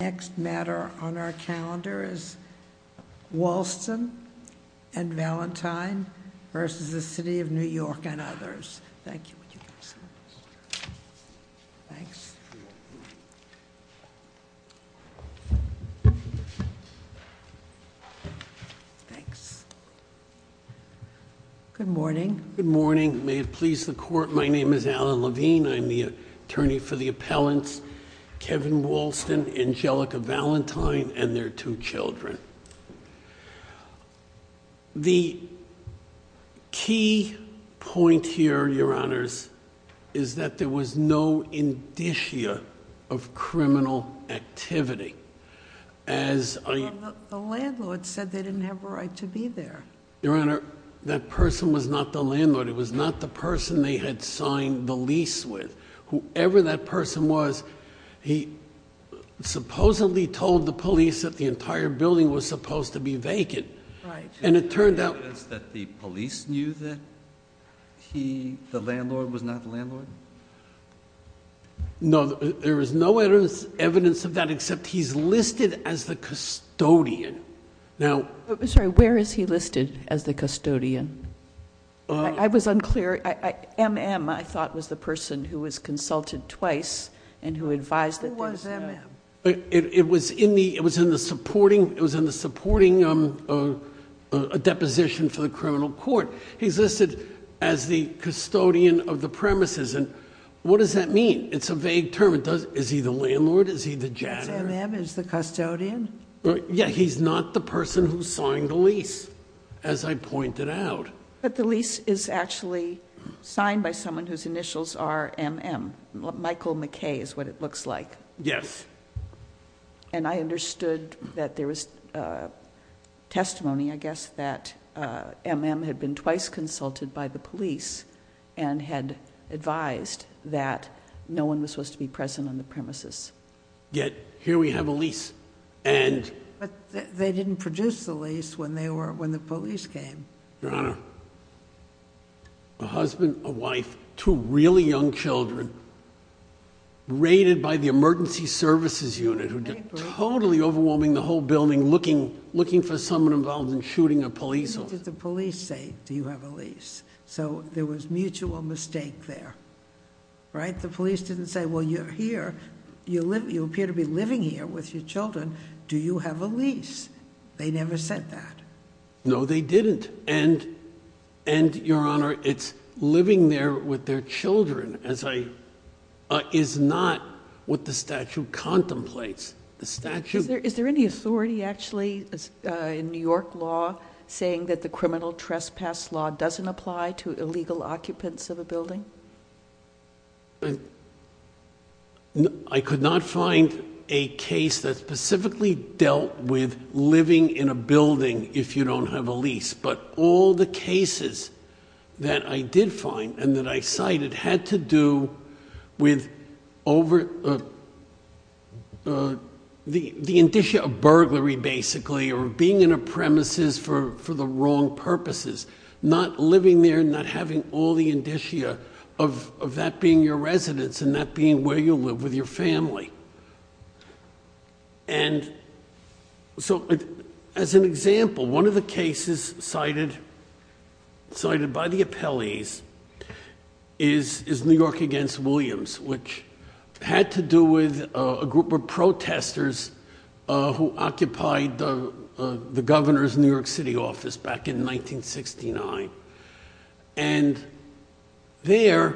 Next matter on our calendar is Walston and Valentine v. The City of New York and others. Thank you. Thanks. Thanks. Good morning. Good morning. May it please the court, my name is Alan Levine. I'm the attorney for the appellants, Kevin Walston, Angelica Valentine, and their two children. The key point here, your honors, is that there was no indicia of criminal activity. The landlord said they didn't have a right to be there. Your honor, that person was not the landlord, it was not the person they had signed the lease with. Whoever that person was, he supposedly told the police that the entire building was supposed to be vacant. Right. And it turned out- Is there evidence that the police knew that he, the landlord, was not the landlord? No, there is no evidence of that except he's listed as the custodian. Sorry, where is he listed as the custodian? I was unclear. MM, I thought, was the person who was consulted twice and who advised- Who was MM? It was in the supporting deposition for the criminal court. He's listed as the custodian of the premises. What does that mean? It's a vague term. Is he the landlord? Is he the janitor? Is MM the custodian? Yeah, he's not the person who signed the lease, as I pointed out. But the lease is actually signed by someone whose initials are MM. Michael McKay is what it looks like. Yes. And I understood that there was testimony, I guess, that MM had been twice consulted by the police and had advised that no one was supposed to be present on the premises. Yet here we have a lease and- But they didn't produce the lease when the police came. Your Honor, a husband, a wife, two really young children raided by the emergency services unit who did totally overwhelming the whole building looking for someone involved in shooting a police officer. What did the police say? Do you have a lease? So there was mutual mistake there, right? The police didn't say, well, you're here. You appear to be living here with your children. Do you have a lease? They never said that. No, they didn't. And, Your Honor, it's living there with their children is not what the statute contemplates. The statute- Is there any authority actually in New York law saying that the criminal trespass law doesn't apply to illegal occupants of a building? I could not find a case that specifically dealt with living in a building if you don't have a lease. But all the cases that I did find and that I cited had to do with the indicia of burglary, basically, or being in a premises for the wrong purposes. Not living there, not having all the indicia of that being your residence and that being where you live with your family. And so as an example, one of the cases cited by the appellees is New York against Williams, which had to do with a group of protesters who occupied the governor's New York City office back in 1969. And there,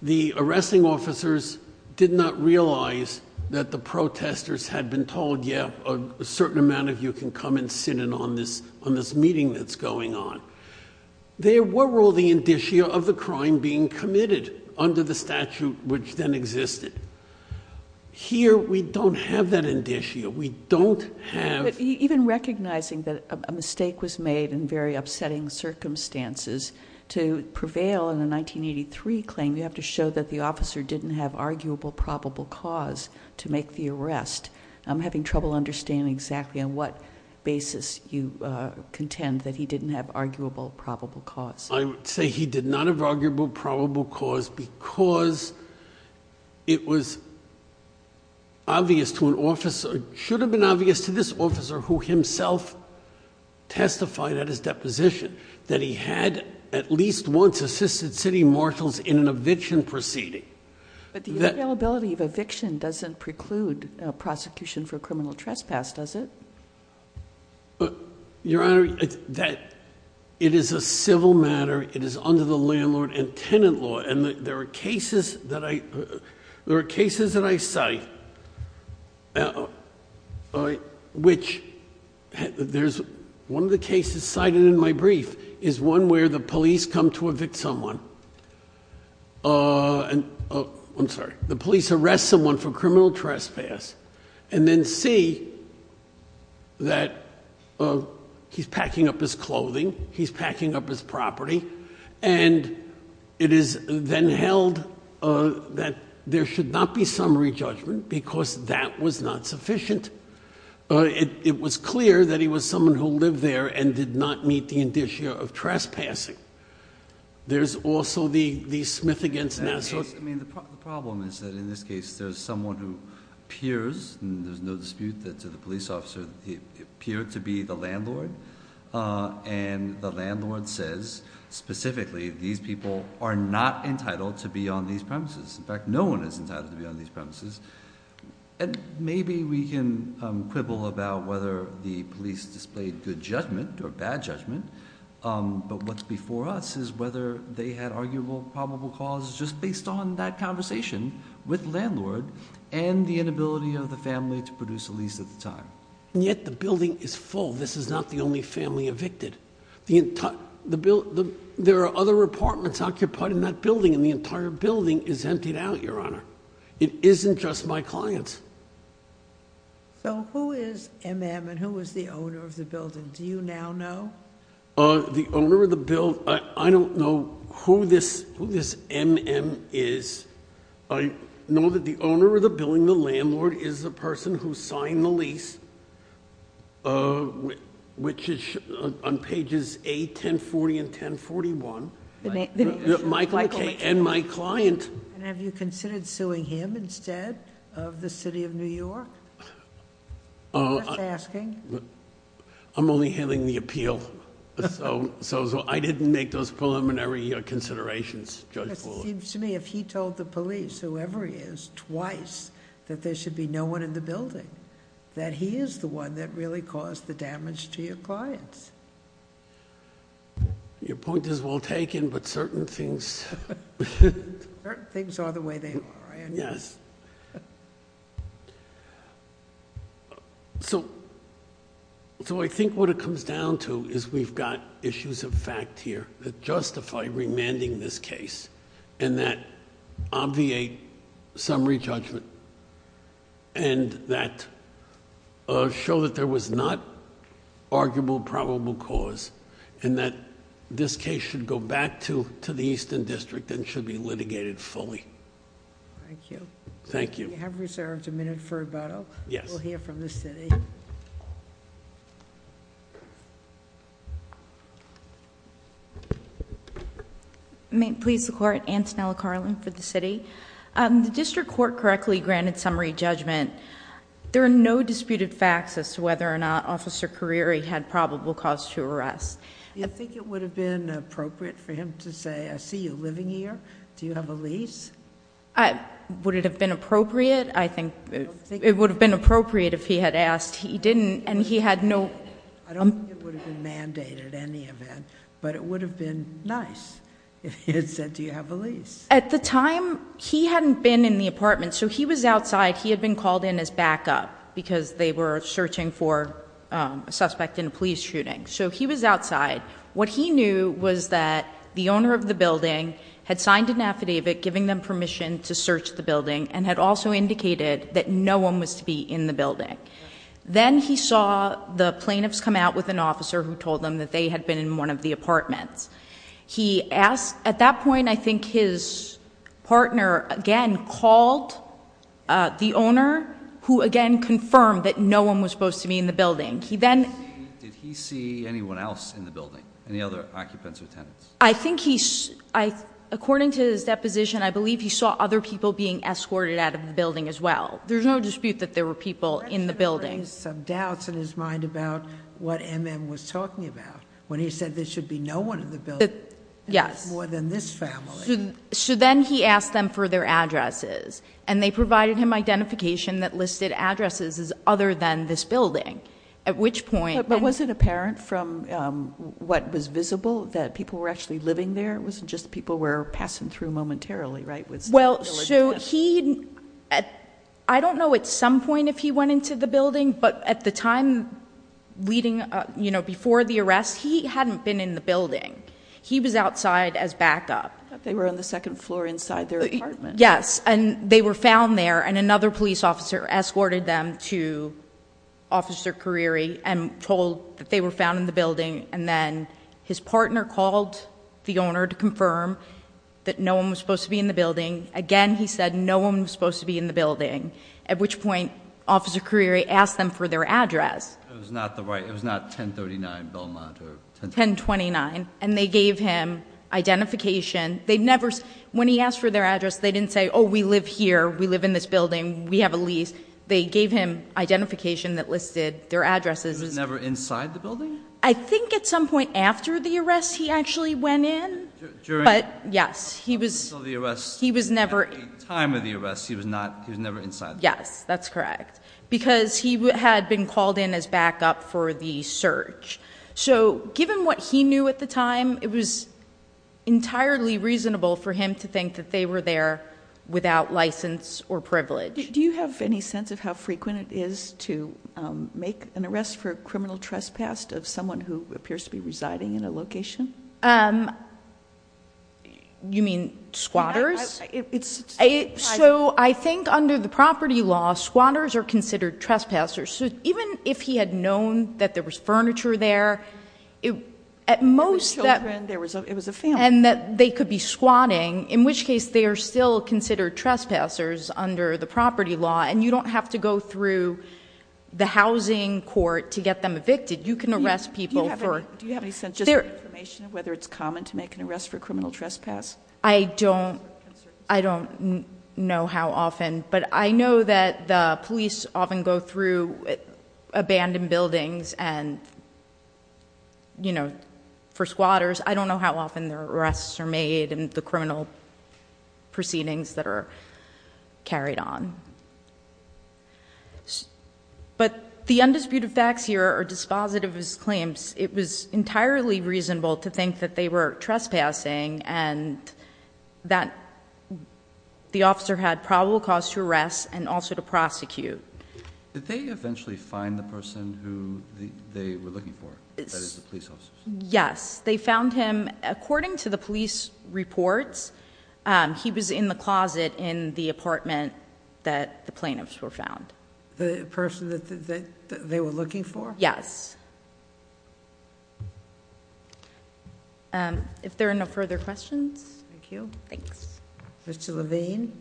the arresting officers did not realize that the protesters had been told, yeah, a certain amount of you can come and sit in on this meeting that's going on. There were all the indicia of the crime being committed under the statute which then existed. Here, we don't have that indicia. We don't have- Even recognizing that a mistake was made in very upsetting circumstances, to prevail in a 1983 claim, you have to show that the officer didn't have arguable probable cause to make the arrest. I'm having trouble understanding exactly on what basis you contend that he didn't have arguable probable cause. I would say he did not have arguable probable cause because it was obvious to an officer, should have been obvious to this officer who himself testified at his deposition, that he had at least once assisted city marshals in an eviction proceeding. But the availability of eviction doesn't preclude prosecution for criminal trespass, does it? Your Honor, it is a civil matter. It is under the landlord and tenant law. And there are cases that I cite. One of the cases cited in my brief is one where the police come to evict someone. I'm sorry. The police arrest someone for criminal trespass and then see that he's packing up his clothing, he's packing up his property, and it is then held that there should not be summary judgment because that was not sufficient. It was clear that he was someone who lived there and did not meet the indicia of trespassing. There's also the Smith against Nassau. I mean, the problem is that in this case there's someone who appears, and there's no dispute that the police officer appeared to be the landlord, and the landlord says specifically these people are not entitled to be on these premises. In fact, no one is entitled to be on these premises. And maybe we can quibble about whether the police displayed good judgment or bad judgment, but what's before us is whether they had arguable probable cause just based on that conversation with landlord and the inability of the family to produce a lease at the time. And yet the building is full. This is not the only family evicted. There are other apartments occupied in that building, and the entire building is emptied out, Your Honor. It isn't just my clients. So who is M.M. and who is the owner of the building? Do you now know? The owner of the building, I don't know who this M.M. is. I know that the owner of the building, the landlord, is the person who signed the lease, which is on pages 8, 1040, and 1041. Michael McKay and my client. And have you considered suing him instead of the city of New York? I'm just asking. I'm only handling the appeal. So I didn't make those preliminary considerations, Judge Bullard. It seems to me if he told the police, whoever he is, twice that there should be no one in the building, that he is the one that really caused the damage to your clients. Your point is well taken, but certain things... Certain things are the way they are. Yes. Yes. So I think what it comes down to is we've got issues of fact here that justify remanding this case, and that obviate summary judgment, and that show that there was not arguable probable cause, and that this case should go back to the Eastern District and should be litigated fully. Thank you. Thank you. We have reserved a minute for rebuttal. Yes. We'll hear from the city. Please support Antonella Carlin for the city. The district court correctly granted summary judgment. There are no disputed facts as to whether or not Officer Carieri had probable cause to arrest. Do you think it would have been appropriate for him to say, I see you living here, do you have a lease? Would it have been appropriate? I think it would have been appropriate if he had asked. He didn't, and he had no... I don't think it would have been mandated in any event, but it would have been nice if he had said, do you have a lease? At the time, he hadn't been in the apartment, so he was outside. He had been called in as backup because they were searching for a suspect in a police shooting. So he was outside. What he knew was that the owner of the building had signed an affidavit giving them permission to search the building and had also indicated that no one was to be in the building. Then he saw the plaintiffs come out with an officer who told them that they had been in one of the apartments. He asked... at that point, I think his partner again called the owner, who again confirmed that no one was supposed to be in the building. He then... Did he see anyone else in the building, any other occupants or tenants? I think he... according to his deposition, I believe he saw other people being escorted out of the building as well. There's no dispute that there were people in the building. He had some doubts in his mind about what M.M. was talking about when he said there should be no one in the building. Yes. More than this family. So then he asked them for their addresses, and they provided him identification that listed addresses as other than this building, at which point... But was it apparent from what was visible that people were actually living there? It wasn't just people were passing through momentarily, right? Well, so he... I don't know at some point if he went into the building, but at the time leading up, you know, before the arrest, he hadn't been in the building. He was outside as backup. They were on the second floor inside their apartment. Yes. And, they were found there, and another police officer escorted them to Officer Cariri and told that they were found in the building. And then, his partner called the owner to confirm that no one was supposed to be in the building. Again, he said no one was supposed to be in the building, at which point Officer Cariri asked them for their address. It was not the right... it was not 1039 Belmont or... 1029. And, they gave him identification. They never... when he asked for their address, they didn't say, oh, we live here. We live in this building. We have a lease. They gave him identification that listed their addresses. He was never inside the building? I think at some point after the arrest, he actually went in. During... But, yes, he was... Until the arrest... He was never... At the time of the arrest, he was not... he was never inside the building. Yes, that's correct, because he had been called in as backup for the search. So, given what he knew at the time, it was entirely reasonable for him to think that they were there without license or privilege. Do you have any sense of how frequent it is to make an arrest for a criminal trespass of someone who appears to be residing in a location? You mean squatters? It's... So, I think under the property law, squatters are considered trespassers. So, even if he had known that there was furniture there, at most... There were children. It was a family. And that they could be squatting, in which case they are still considered trespassers under the property law, and you don't have to go through the housing court to get them evicted. You can arrest people for... Do you have any sense of information of whether it's common to make an arrest for a criminal trespass? I don't. I don't know how often, but I know that the police often go through abandoned buildings and, you know, for squatters. I don't know how often the arrests are made and the criminal proceedings that are carried on. But, the undisputed facts here are dispositive of his claims. It was entirely reasonable to think that they were trespassing and that the officer had probable cause to arrest and also to prosecute. Did they eventually find the person who they were looking for? That is, the police officers? Yes. They found him... According to the police reports, he was in the closet in the apartment that the plaintiffs were found. The person that they were looking for? Yes. If there are no further questions... Thank you. Thanks. Mr. Levine,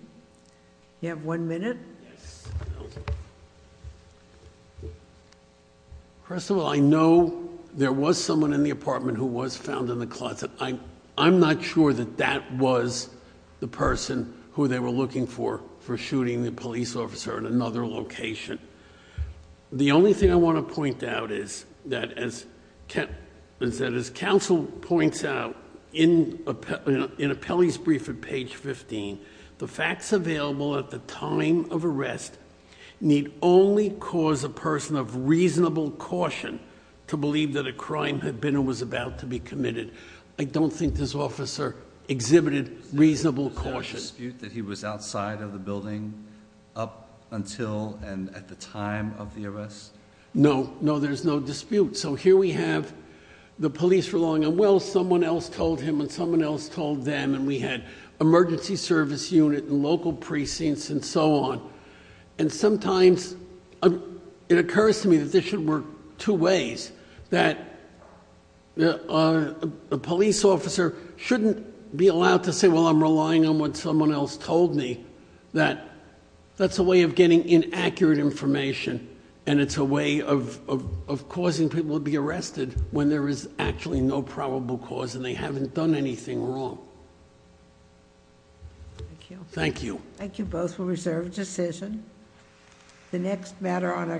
you have one minute. First of all, I know there was someone in the apartment who was found in the closet. I'm not sure that that was the person who they were looking for, for shooting the police officer in another location. The only thing I want to point out is that as counsel points out in Apelli's brief at page 15, the facts available at the time of arrest need only cause a person of reasonable caution to believe that a crime had been or was about to be committed. I don't think this officer exhibited reasonable caution. Is there any dispute that he was outside of the building up until and at the time of the arrest? No. No, there's no dispute. So here we have the police relying on, well, someone else told him and someone else told them, and we had emergency service unit and local precincts and so on. And sometimes it occurs to me that this should work two ways, that a police officer shouldn't be allowed to say, well, I'm relying on what someone else told me, that that's a way of getting inaccurate information. And it's a way of causing people to be arrested when there is actually no probable cause and they haven't done anything wrong. Thank you. Thank you both for reserved decision. The next matter on our calendar.